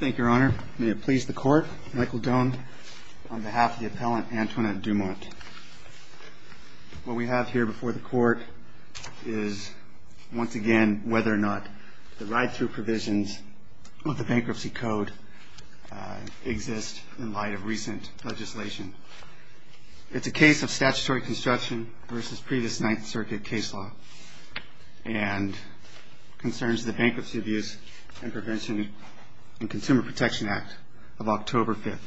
May it please the Court, Michael Doane on behalf of the Appellant Antoinette Dumont. What we have here before the Court is once again whether or not the ride-through provisions of the Bankruptcy Code exist in light of recent legislation. It's a case of statutory construction versus previous Ninth Circuit case law and concerns the Bankruptcy Abuse and Prevention and Consumer Protection Act of October 5th,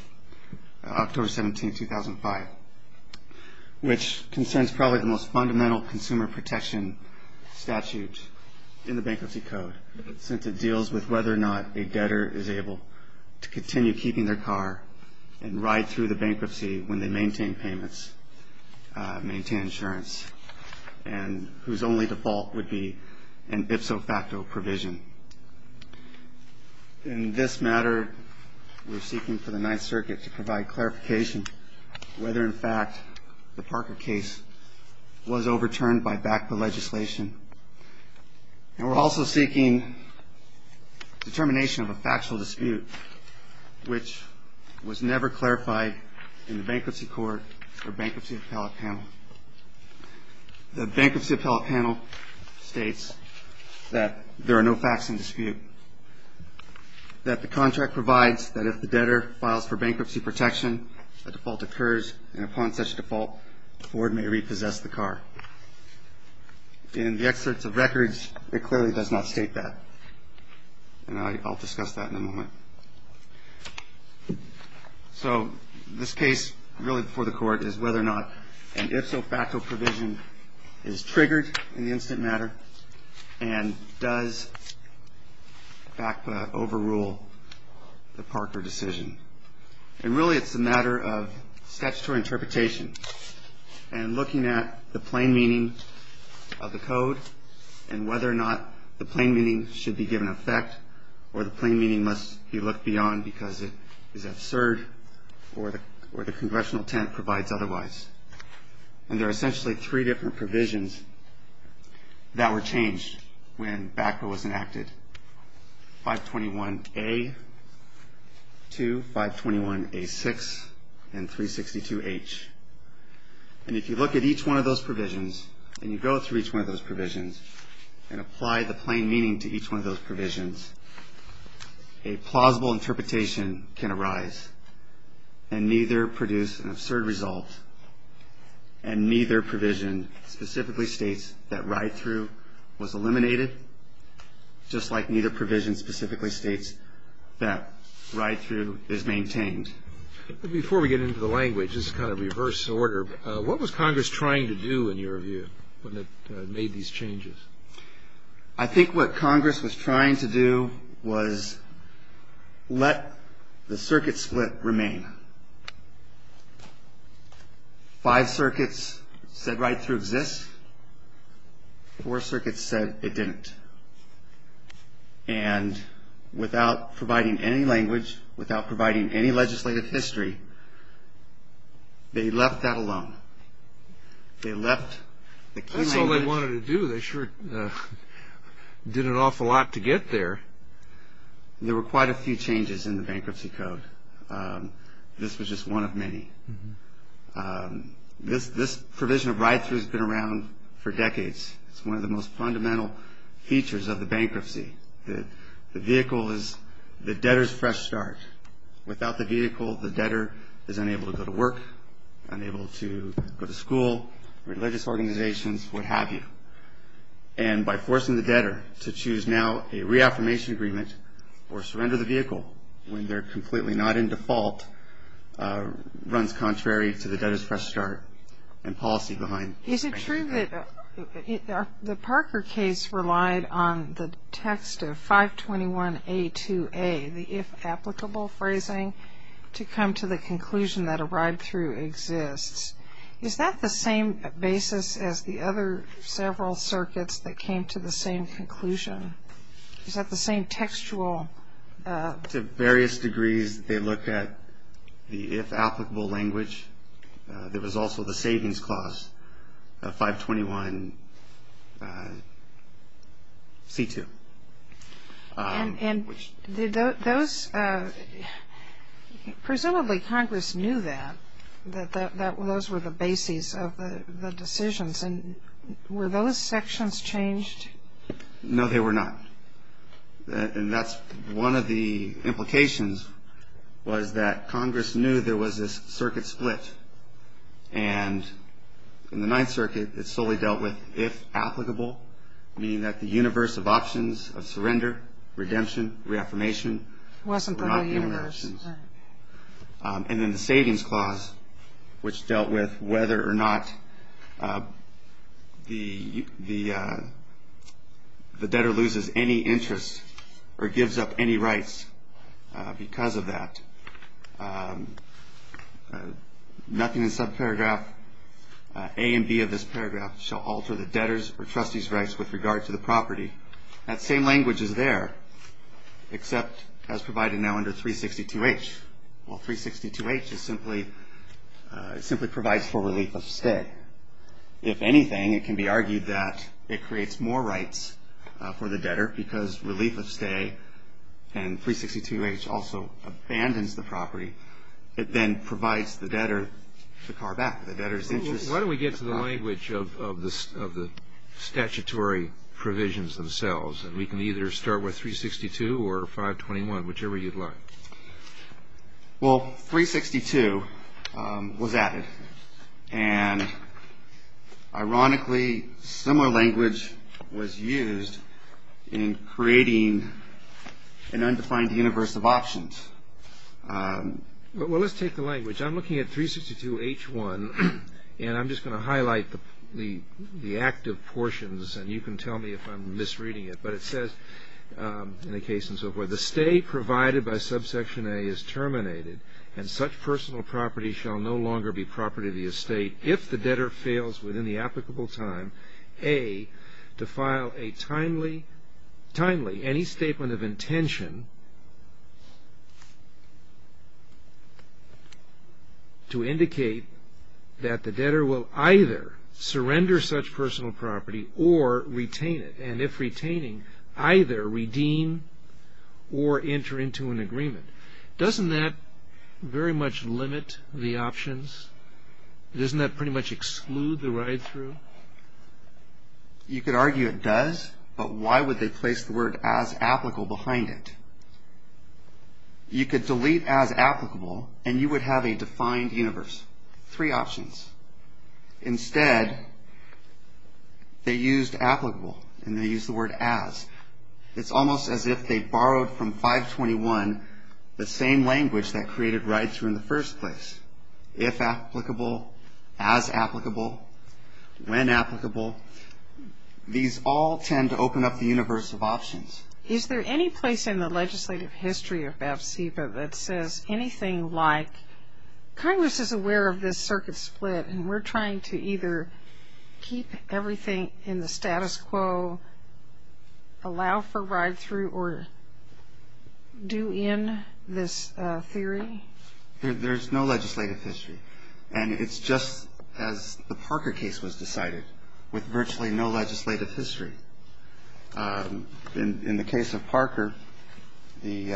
October 17, 2005, which concerns probably the most fundamental consumer protection statute in the Bankruptcy Code, since it deals with whether or not a debtor is able to continue keeping their car and ride through the bankruptcy when they maintain payments, maintain insurance, and whose only default would be an ipso facto provision. In this matter, we're seeking for the Ninth Circuit to provide clarification whether, in fact, the Parker case was overturned by BACPA legislation. And we're also seeking determination of a factual dispute, which was never clarified in the Bankruptcy Court or Bankruptcy Appellate Panel. The Bankruptcy Appellate Panel states that there are no facts in dispute, that the contract provides that if the debtor files for bankruptcy protection, a default occurs, and upon such default, the board may repossess the car. In the excerpts of records, it clearly does not state that. And I'll discuss that in a moment. So this case really before the Court is whether or not an ipso facto provision is triggered in the instant matter and does BACPA overrule the Parker decision. And really, it's a matter of statutory interpretation and looking at the plain meaning of the code and whether or not the plain meaning should be given effect or the plain meaning must be looked beyond because it is absurd or the congressional intent provides otherwise. And there are essentially three different provisions that were changed when BACPA was enacted. 521A, 2, 521A6, and 362H. And if you look at each one of those provisions and you go through each one of those provisions and apply the plain meaning to each one of those provisions, a plausible interpretation can arise and neither produce an absurd result and neither provision specifically states that ride-through was eliminated, just like neither provision specifically states that ride-through is maintained. Before we get into the language, this is kind of reverse order, what was Congress trying to do in your view when it made these changes? I think what Congress was trying to do was let the circuit split remain. Five circuits said ride-through exists. Four circuits said it didn't. And without providing any language, without providing any legislative history, they left that alone. They left the key language. That's all they wanted to do. They sure did an awful lot to get there. There were quite a few changes in the bankruptcy code. This was just one of many. This provision of ride-through has been around for decades. It's one of the most fundamental features of the bankruptcy. The vehicle is the debtor's fresh start. Without the vehicle, the debtor is unable to go to work, unable to go to school, religious organizations, what have you. And by forcing the debtor to choose now a reaffirmation agreement or surrender the vehicle when they're completely not in default runs contrary to the debtor's fresh start and policy behind it. Is it true that the Parker case relied on the text of 521A2A, the if applicable phrasing, to come to the conclusion that a ride-through exists? Is that the same basis as the other several circuits that came to the same conclusion? Is that the same textual? To various degrees. They looked at the if applicable language. There was also the savings clause, 521C2. And presumably Congress knew that, that those were the bases of the decisions. And were those sections changed? No, they were not. And that's one of the implications was that Congress knew there was this circuit split. And in the Ninth Circuit, it solely dealt with if applicable, meaning that the universe of options of surrender, redemption, reaffirmation were not the universe. And then the savings clause, which dealt with whether or not the debtor loses any interest or gives up any rights because of that. Nothing in subparagraph A and B of this paragraph shall alter the debtor's or trustee's rights with regard to the property. That same language is there, except as provided now under 362H. Well, 362H simply provides for relief of stay. If anything, it can be argued that it creates more rights for the debtor because relief of stay and 362H also abandons the property. It then provides the debtor the car back, the debtor's interest. Why don't we get to the language of the statutory provisions themselves? And we can either start with 362 or 521, whichever you'd like. Well, 362 was added. And ironically, similar language was used in creating an undefined universe of options. Well, let's take the language. I'm looking at 362H1, and I'm just going to highlight the active portions, and you can tell me if I'm misreading it. But it says in the case and so forth, the stay provided by subsection A is terminated and such personal property shall no longer be property of the estate if the debtor fails within the applicable time, A, to file a timely, any statement of intention to indicate that the debtor will either surrender such personal property or retain it, and if retaining, either redeem or enter into an agreement. Doesn't that very much limit the options? Doesn't that pretty much exclude the ride-through? You could argue it does, but why would they place the word as applicable behind it? You could delete as applicable, and you would have a defined universe, three options. Instead, they used applicable, and they used the word as. It's almost as if they borrowed from 521 the same language that created ride-through in the first place. If applicable, as applicable, when applicable, these all tend to open up the universe of options. Is there any place in the legislative history of AFCPA that says anything like, Congress is aware of this circuit split, and we're trying to either keep everything in the status quo, allow for ride-through, or do in this theory? There's no legislative history. And it's just as the Parker case was decided, with virtually no legislative history. In the case of Parker, the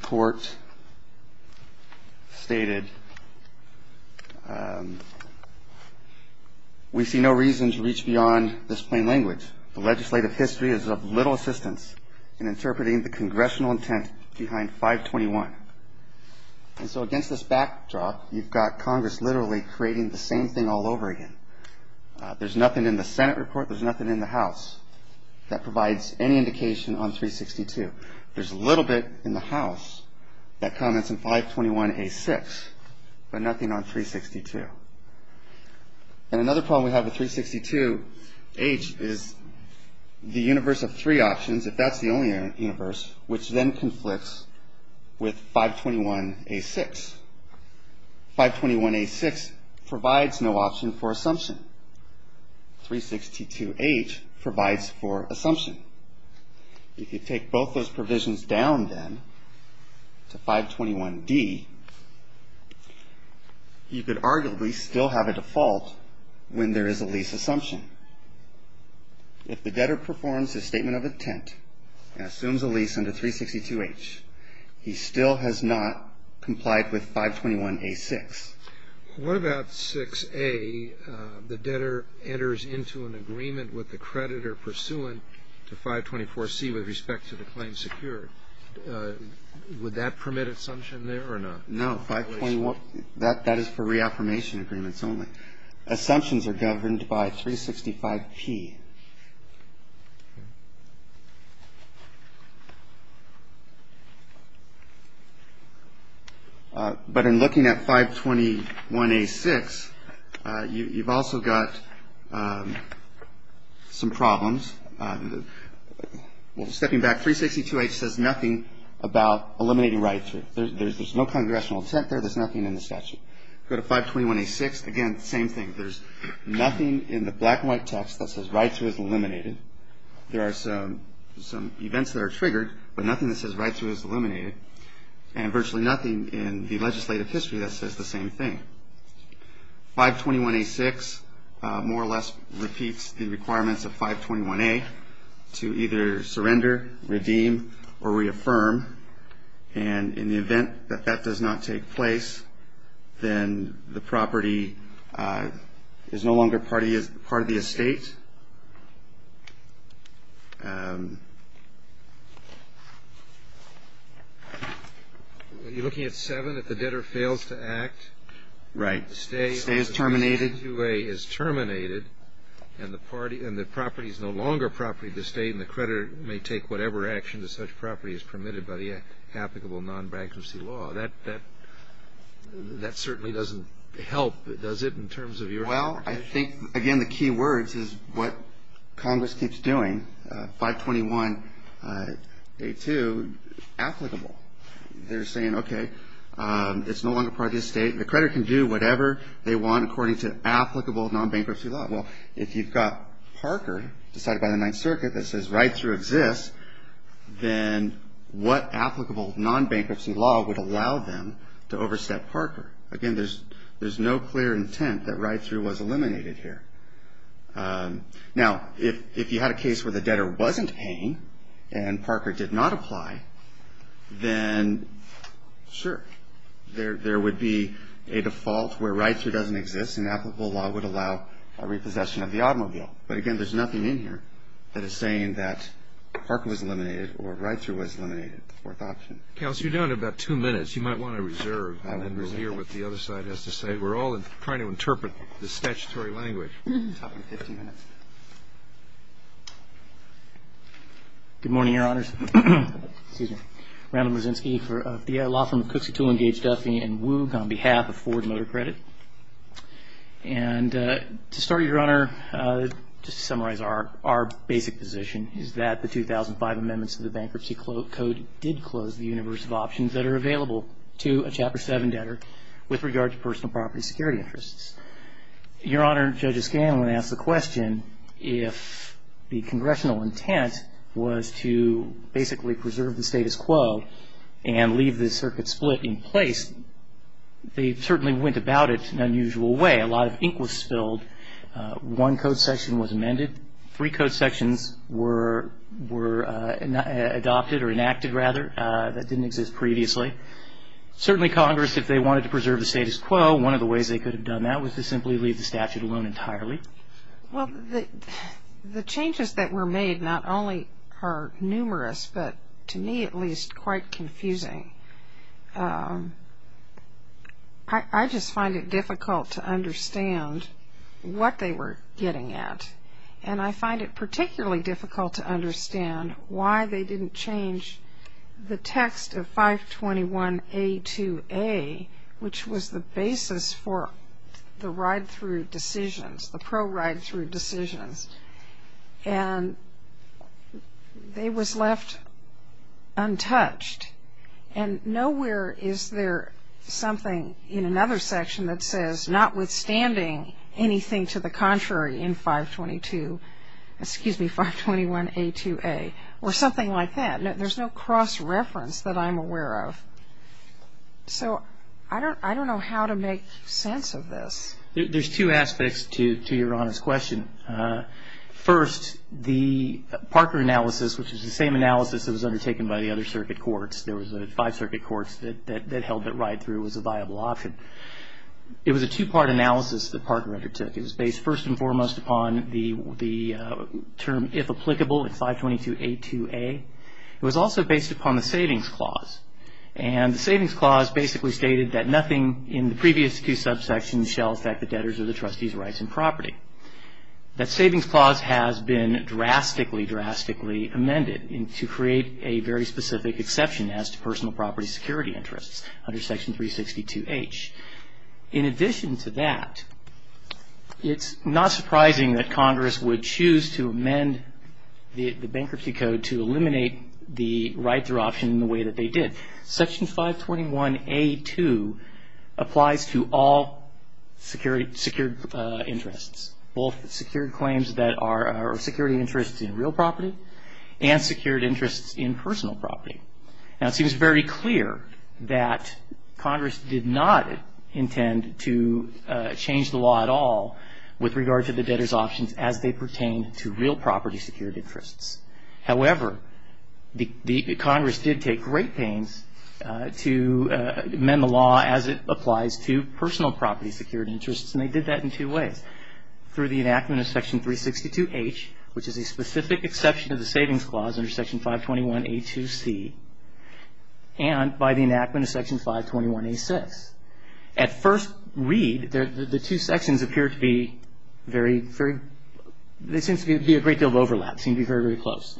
court stated, we see no reason to reach beyond this plain language. The legislative history is of little assistance in interpreting the congressional intent behind 521. And so against this backdrop, you've got Congress literally creating the same thing all over again. There's nothing in the Senate report. There's nothing in the House that provides any indication on 362. There's a little bit in the House that comments in 521A6, but nothing on 362. And another problem we have with 362H is the universe of three options, if that's the only universe, which then conflicts with 521A6. 521A6 provides no option for assumption. 362H provides for assumption. If you take both those provisions down then to 521D, you could arguably still have a default when there is a lease assumption. If the debtor performs a statement of intent and assumes a lease under 362H, he still has not complied with 521A6. What about 6A, the debtor enters into an agreement with the creditor pursuant to 524C with respect to the claim secured? Would that permit assumption there or not? No. That is for reaffirmation agreements only. Assumptions are governed by 365P. But in looking at 521A6, you've also got some problems. Stepping back, 362H says nothing about eliminating rideshare. There's no congressional intent there. There's nothing in the statute. Go to 521A6, again, same thing. There's nothing in the black and white text that says rideshare. There are some events that are triggered, but nothing that says rideshare is eliminated. And virtually nothing in the legislative history that says the same thing. 521A6 more or less repeats the requirements of 521A to either surrender, redeem, or reaffirm. And in the event that that does not take place, then the property is no longer part of the estate. Are you looking at 7, if the debtor fails to act? Right. The stay is terminated. If 521A2A is terminated and the property is no longer property of the estate and the creditor may take whatever action to such property is permitted by the applicable non-bankruptcy law, that certainly doesn't help, does it, in terms of your interpretation? Well, I think, again, the key words is what Congress keeps doing, 521A2 applicable. They're saying, okay, it's no longer part of the estate. The creditor can do whatever they want according to applicable non-bankruptcy law. Well, if you've got Parker decided by the Ninth Circuit that says ride-through exists, then what applicable non-bankruptcy law would allow them to overstep Parker? Again, there's no clear intent that ride-through was eliminated here. Now, if you had a case where the debtor wasn't paying and Parker did not apply, then, sure, there would be a default where ride-through doesn't exist and applicable law would allow a repossession of the automobile. But, again, there's nothing in here that is saying that Parker was eliminated or ride-through was eliminated, the fourth option. Counsel, you're down to about two minutes. You might want to reserve and then we'll hear what the other side has to say. We're all trying to interpret the statutory language. You have 15 minutes. Good morning, Your Honors. Excuse me. Randall Mazinski for the law firm of Cooks & Toole and Gage Duffy and Woog on behalf of Ford Motor Credit. And to start, Your Honor, just to summarize our basic position is that the 2005 amendments to the Bankruptcy Code did close the universe of options that are available to a Chapter 7 debtor with regard to personal property security interests. Your Honor, Judges Scanlon asked the question, if the congressional intent was to basically preserve the status quo and leave the circuit split in place, they certainly went about it in an unusual way. A lot of ink was spilled. One code section was amended. Three code sections were adopted or enacted, rather. That didn't exist previously. Certainly, Congress, if they wanted to preserve the status quo, one of the ways they could have done that was to simply leave the statute alone entirely. Well, the changes that were made not only are numerous but, to me at least, quite confusing. I just find it difficult to understand what they were getting at. And I find it particularly difficult to understand why they didn't change the text of 521A2A, which was the basis for the ride-through decisions, the pro-ride-through decisions. And they was left untouched. And nowhere is there something in another section that says, notwithstanding anything to the contrary in 522, excuse me, 521A2A, or something like that. There's no cross-reference that I'm aware of. So I don't know how to make sense of this. There's two aspects to Your Honor's question. First, the Parker analysis, which is the same analysis that was undertaken by the other circuit courts. There was five circuit courts that held that ride-through was a viable option. It was a two-part analysis that Parker undertook. It was based first and foremost upon the term, if applicable, in 522A2A. It was also based upon the Savings Clause. And the Savings Clause basically stated that nothing in the previous two subsections shall affect the debtors or the trustees' rights and property. That Savings Clause has been drastically, drastically amended to create a very specific exception as to personal property security interests under Section 362H. In addition to that, it's not surprising that Congress would choose to amend the bankruptcy code to eliminate the ride-through option in the way that they did. Section 521A2 applies to all secured interests, both secured claims that are security interests in real property and secured interests in personal property. Now, it seems very clear that Congress did not intend to change the law at all with regard to the debtors' options as they pertain to real property security interests. However, Congress did take great pains to amend the law as it applies to personal property security interests, and they did that in two ways. Through the enactment of Section 362H, which is a specific exception to the Savings Clause under Section 521A2C, and by the enactment of Section 521A6. At first read, the two sections appear to be very, very, there seems to be a great deal of overlap, seem to be very, very close.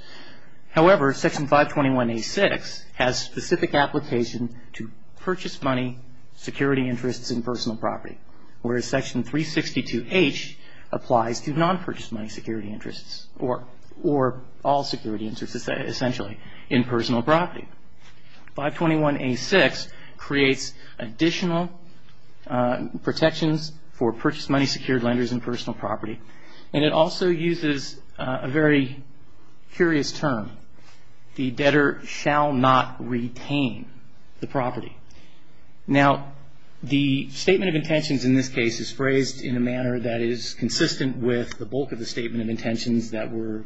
However, Section 521A6 has specific application to purchase money security interests in personal property, whereas Section 362H applies to non-purchase money security interests or all security interests essentially in personal property. 521A6 creates additional protections for purchase money secured lenders in personal property, and it also uses a very curious term, the debtor shall not retain the property. Now, the statement of intentions in this case is phrased in a manner that is consistent with the bulk of the statement of intentions that were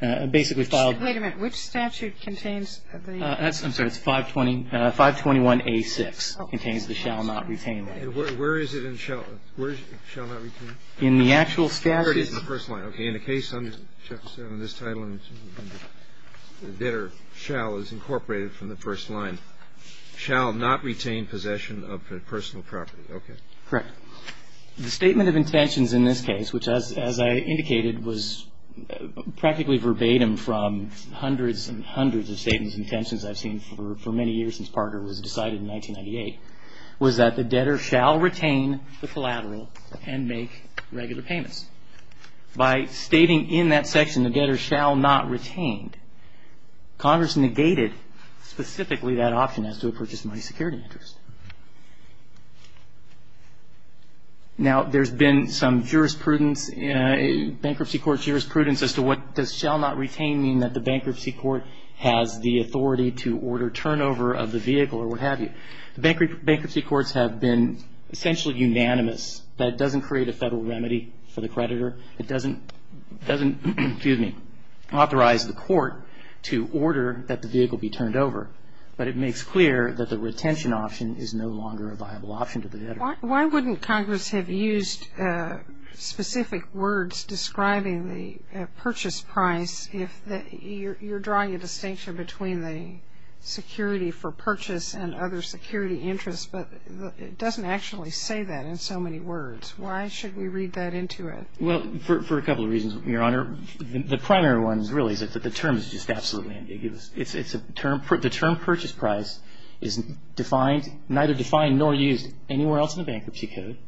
basically filed. Wait a minute. Which statute contains the? I'm sorry. It's 520, 521A6 contains the shall not retain. Where is it in shall not retain? In the actual statute. It's in the first line. Okay. In the case under this title, the debtor shall is incorporated from the first line, shall not retain possession of personal property. Okay. Correct. The statement of intentions in this case, which as I indicated, was practically verbatim from hundreds and hundreds of statements of intentions I've seen for many years since Parker was decided in 1998, was that the debtor shall retain the collateral and make regular payments. By stating in that section the debtor shall not retain, Congress negated specifically that option as to a purchase money security interest. Now, there's been some bankruptcy court jurisprudence as to what does shall not retain mean, that the bankruptcy court has the authority to order turnover of the vehicle or what have you. The bankruptcy courts have been essentially unanimous that it doesn't create a federal remedy for the creditor. It doesn't, excuse me, authorize the court to order that the vehicle be turned over, but it makes clear that the retention option is no longer a viable option to the debtor. Why wouldn't Congress have used specific words describing the purchase price if you're drawing a distinction between the security for purchase and other security interests, but it doesn't actually say that in so many words? Why should we read that into it? Well, for a couple of reasons, Your Honor. The primary one really is that the term is just absolutely ambiguous. The term purchase price is defined, neither defined nor used anywhere else in the bankruptcy code.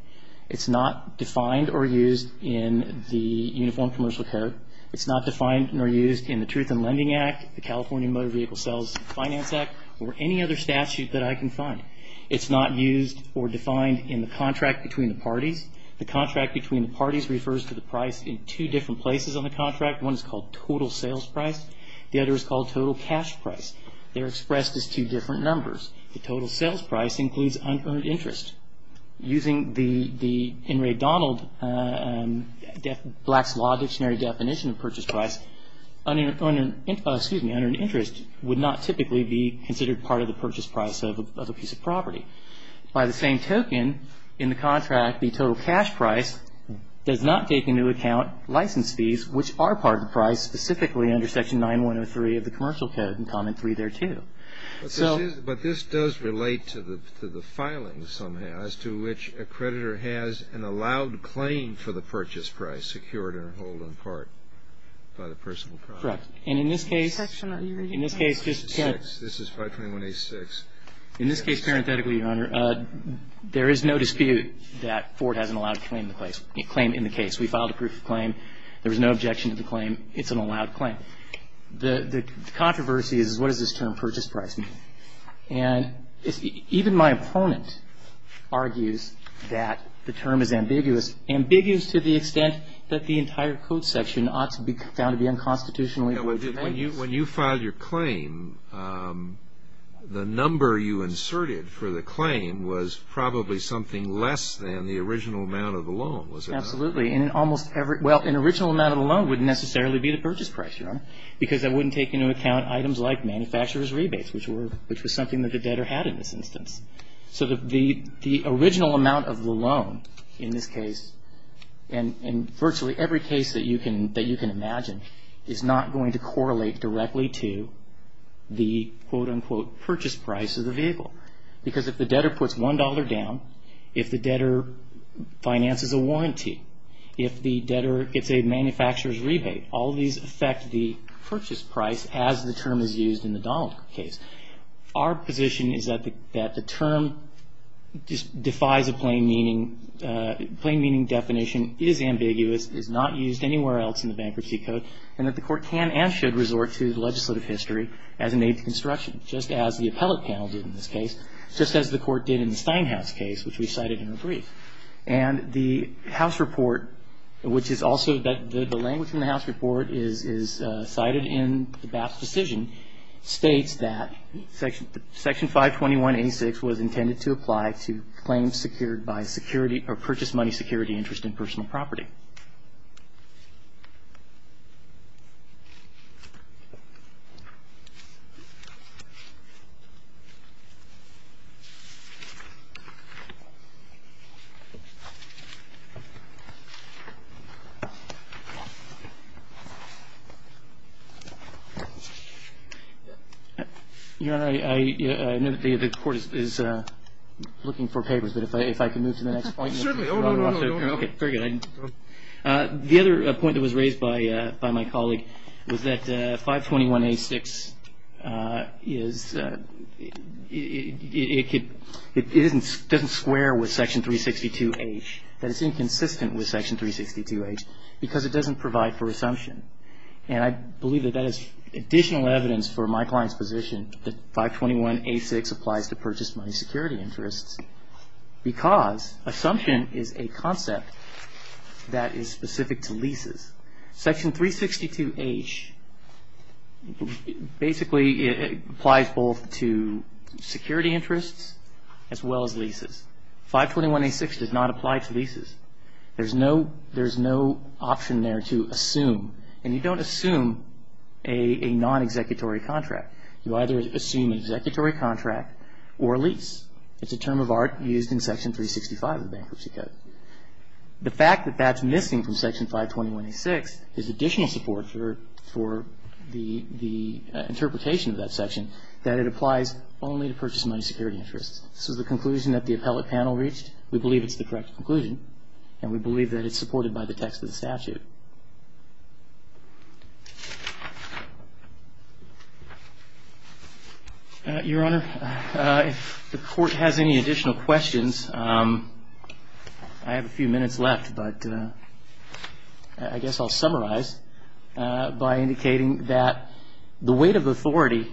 It's not defined or used in the Uniform Commercial Code. It's not defined nor used in the Truth in Lending Act, the California Motor Vehicle Sales and Finance Act, or any other statute that I can find. It's not used or defined in the contract between the parties. The contract between the parties refers to the price in two different places on the contract. One is called total sales price. The other is called total cash price. They're expressed as two different numbers. The total sales price includes unearned interest. Using the Henry Donald Black's Law Dictionary definition of purchase price, unearned interest would not typically be considered part of the purchase price of a piece of property. By the same token, in the contract, the total cash price does not take into account license fees, which are part of the price specifically under Section 9103 of the Commercial Code, and Comment 3 there, too. But this does relate to the filing somehow as to which a creditor has an allowed claim for the purchase price secured and hold in part by the personal property. Correct. And in this case, just parenthetically, Your Honor, there is no dispute that Ford has an allowed claim in the case. We filed a proof of claim. There was no objection to the claim. It's an allowed claim. Now, the controversy is what does this term purchase price mean? And even my opponent argues that the term is ambiguous, ambiguous to the extent that the entire code section ought to be found to be unconstitutionally. When you filed your claim, the number you inserted for the claim was probably something less than the original amount of the loan, was it not? Well, an original amount of the loan wouldn't necessarily be the purchase price, Your Honor, because that wouldn't take into account items like manufacturer's rebates, which was something that the debtor had in this instance. So the original amount of the loan in this case, and virtually every case that you can imagine, is not going to correlate directly to the, quote, unquote, purchase price of the vehicle. Because if the debtor puts $1 down, if the debtor finances a warranty, if the debtor gets a manufacturer's rebate, all of these affect the purchase price as the term is used in the Donald case. Our position is that the term defies a plain meaning, plain meaning definition, is ambiguous, is not used anywhere else in the bankruptcy code, and that the court can and should resort to the legislative history as an aid to construction, just as the appellate panel did in this case, just as the court did in the Steinhaus case, which we cited in a brief. And the House report, which is also the language in the House report, is cited in the Bass decision, states that Section 521-86 was intended to apply to claims secured by security or purchase money security interest in personal property. Your Honor, I know that the court is looking for papers, but if I can move to the next point. Okay, very good. The other point that was raised by my colleague was that 521-86 doesn't square with Section 362-H, that it's inconsistent with Section 362-H because it doesn't provide for assumption. And I believe that that is additional evidence for my client's position that 521-86 applies to purchase money security interests because assumption is a concept that is specific to leases. Section 362-H basically applies both to security interests as well as leases. 521-86 does not apply to leases. There's no option there to assume, and you don't assume a non-executory contract. You either assume an executory contract or a lease. It's a term of art used in Section 365 of the Bankruptcy Code. The fact that that's missing from Section 521-86 is additional support for the interpretation of that section that it applies only to purchase money security interests. This is the conclusion that the appellate panel reached. We believe it's the correct conclusion, and we believe that it's supported by the text of the statute. Your Honor, if the Court has any additional questions, I have a few minutes left, but I guess I'll summarize by indicating that the weight of authority,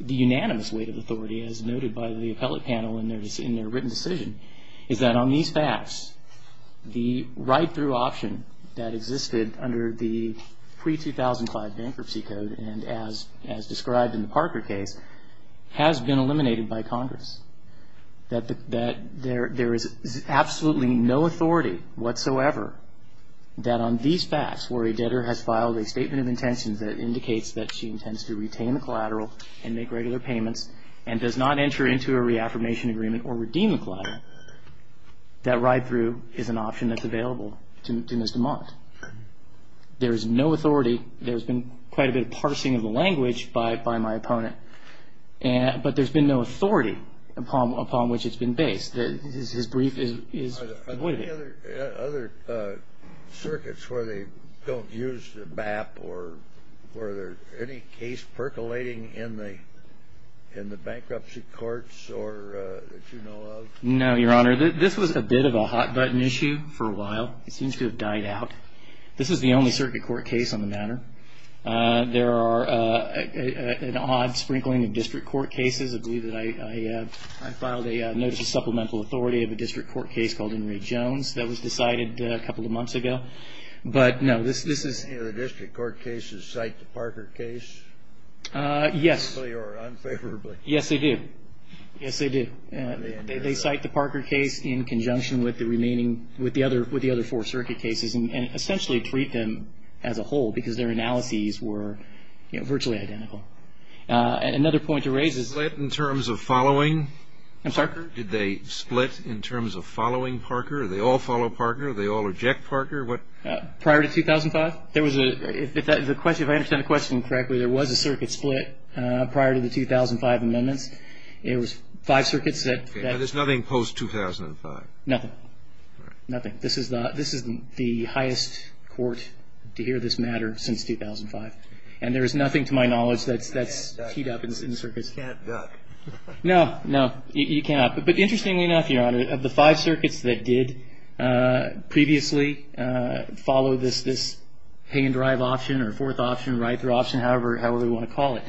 the unanimous weight of authority as noted by the appellate panel in their written decision, is that on these facts, the write-through option that existed under the pre-2005 Bankruptcy Code and as described in the Parker case has been eliminated by Congress, that there is absolutely no authority whatsoever that on these facts, where a debtor has filed a statement of intentions that indicates that she intends to retain the collateral and make regular payments and does not enter into a reaffirmation agreement or redeem the collateral, that write-through is an option that's available to Ms. DeMont. There is no authority. There's been quite a bit of parsing of the language by my opponent, but there's been no authority upon which it's been based. His brief is avoided. Any other circuits where they don't use the BAP or were there any case percolating in the bankruptcy courts that you know of? No, Your Honor. This was a bit of a hot-button issue for a while. It seems to have died out. This is the only circuit court case on the matter. There are an odd sprinkling of district court cases. I believe that I filed a notice of supplemental authority of a district court case called Henry Jones. That was decided a couple of months ago. But, no, this is- Any of the district court cases cite the Parker case? Yes. Unfavorably. Yes, they do. Yes, they do. They cite the Parker case in conjunction with the remaining, with the other four circuit cases and essentially treat them as a whole because their analyses were virtually identical. Another point to raise is- Did they split in terms of following Parker? I'm sorry? Did they split in terms of following Parker? Did they all follow Parker? Did they all reject Parker? Prior to 2005? If I understand the question correctly, there was a circuit split prior to the 2005 amendments. It was five circuits that- There's nothing post-2005? Nothing. Nothing. This is the highest court to hear this matter since 2005. And there is nothing to my knowledge that's teed up in circuits. You can't duck. No, no. You cannot. But interestingly enough, Your Honor, of the five circuits that did previously follow this hay and drive option or fourth option, right through option, however you want to call it,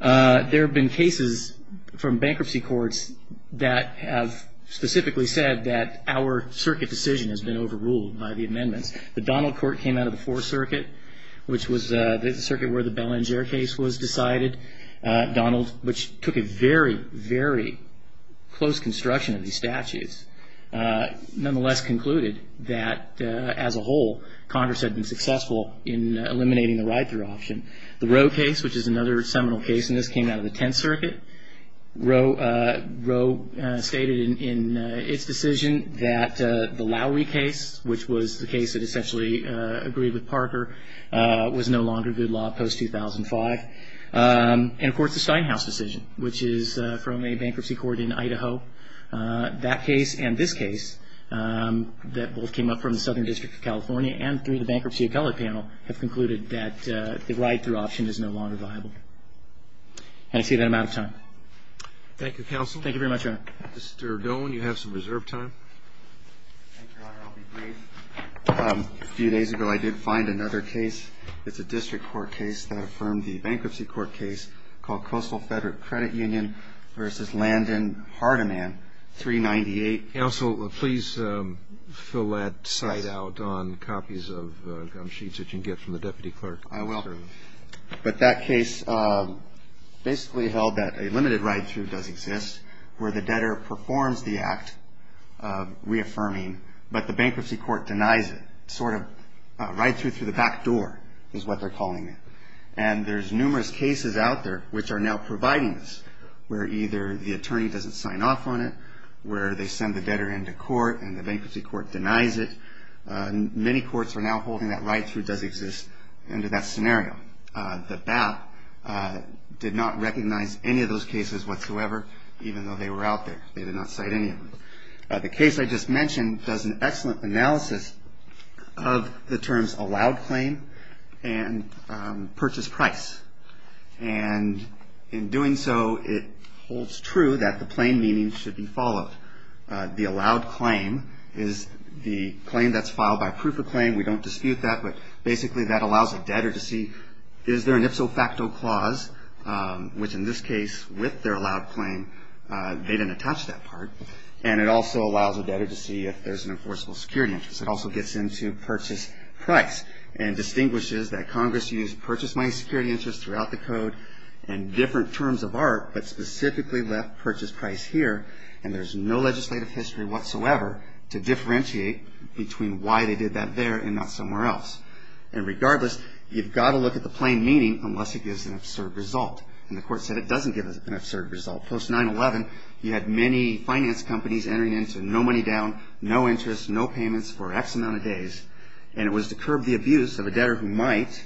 there have been cases from bankruptcy courts that have specifically said that our circuit decision has been overruled by the amendments. The Donald Court came out of the fourth circuit, which was the circuit where the Belanger case was decided. Donald, which took a very, very close construction of these statutes, nonetheless concluded that as a whole, Congress had been successful in eliminating the right through option. The Rowe case, which is another seminal case, and this came out of the tenth circuit, Rowe stated in its decision that the Lowery case, which was the case that essentially agreed with Parker, was no longer good law post-2005. And, of course, the Steinhaus decision, which is from a bankruptcy court in Idaho. That case and this case that both came up from the Southern District of California and through the bankruptcy appellate panel have concluded that the right through option is no longer viable. And I see that I'm out of time. Thank you, Counsel. Thank you very much, Your Honor. Mr. Dolan, you have some reserved time. Thank you, Your Honor. I'll be brief. A few days ago I did find another case. It's a district court case that affirmed the bankruptcy court case called Coastal Federal Credit Union v. Landon Hardiman 398. Counsel, please fill that site out on copies of gum sheets that you can get from the Deputy Clerk. I will. But that case basically held that a limited ride-through does exist where the debtor performs the act reaffirming, but the bankruptcy court denies it, sort of a ride-through through the back door is what they're calling it. And there's numerous cases out there which are now providing this, where either the attorney doesn't sign off on it, where they send the debtor into court and the bankruptcy court denies it. Many courts are now holding that ride-through does exist under that scenario. The BAP did not recognize any of those cases whatsoever, even though they were out there. They did not cite any of them. The case I just mentioned does an excellent analysis of the terms allowed claim and purchase price. And in doing so, it holds true that the plain meaning should be followed. The allowed claim is the claim that's filed by proof of claim. We don't dispute that, but basically that allows a debtor to see is there an ipso facto clause, which in this case with their allowed claim, they didn't attach that part. And it also allows a debtor to see if there's an enforceable security interest. It also gets into purchase price and distinguishes that Congress used purchase money security interest throughout the code in different terms of art, but specifically left purchase price here. And there's no legislative history whatsoever to differentiate between why they did that there and not somewhere else. And regardless, you've got to look at the plain meaning unless it gives an absurd result. And the court said it doesn't give an absurd result. Post-9-11, you had many finance companies entering into no money down, no interest, no payments for X amount of days. And it was to curb the abuse of a debtor who might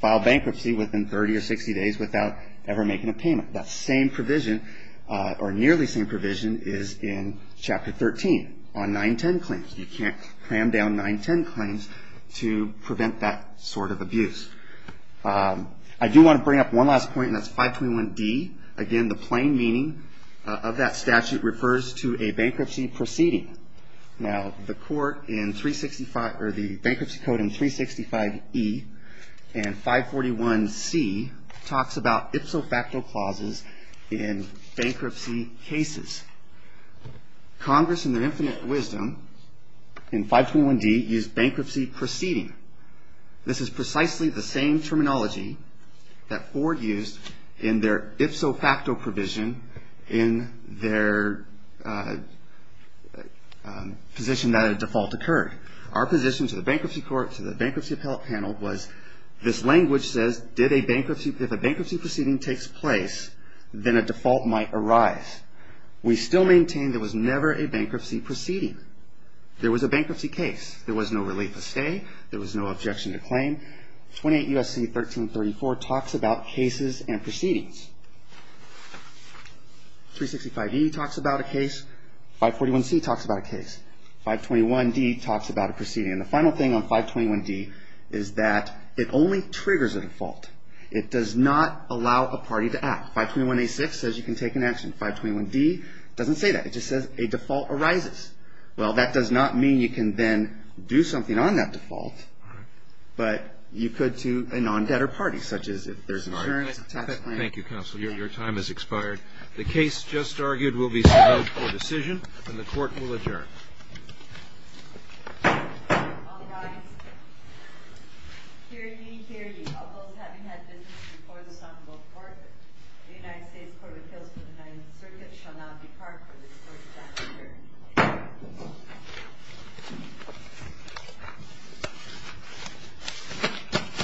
file bankruptcy within 30 or 60 days without ever making a payment. That same provision or nearly same provision is in Chapter 13 on 910 claims. You can't cram down 910 claims to prevent that sort of abuse. I do want to bring up one last point, and that's 521D. Again, the plain meaning of that statute refers to a bankruptcy proceeding. Now, the bankruptcy code in 365E and 541C talks about ipso facto clauses in bankruptcy cases. Congress in their infinite wisdom in 521D used bankruptcy proceeding. This is precisely the same terminology that Ford used in their ipso facto provision in their position that a default occurred. Our position to the Bankruptcy Court, to the Bankruptcy Appellate Panel was this language says if a bankruptcy proceeding takes place, then a default might arise. We still maintain there was never a bankruptcy proceeding. There was a bankruptcy case. There was no relief of stay. There was no objection to claim. 28 U.S.C. 1334 talks about cases and proceedings. 365E talks about a case. 541C talks about a case. 521D talks about a proceeding. And the final thing on 521D is that it only triggers a default. It does not allow a party to act. 521A.6 says you can take an action. 521D doesn't say that. It just says a default arises. Well, that does not mean you can then do something on that default. But you could to a non-debtor party, such as if there's an insurance tax claim. Thank you, Counsel. Your time has expired. The case just argued will be submitted for decision, and the Court will adjourn. All rise. Hear ye, hear ye. Of those having had business before the Soccer Bowl Court, the United States Court of Appeals for the Ninth Circuit shall not be part of this Court's adjournment.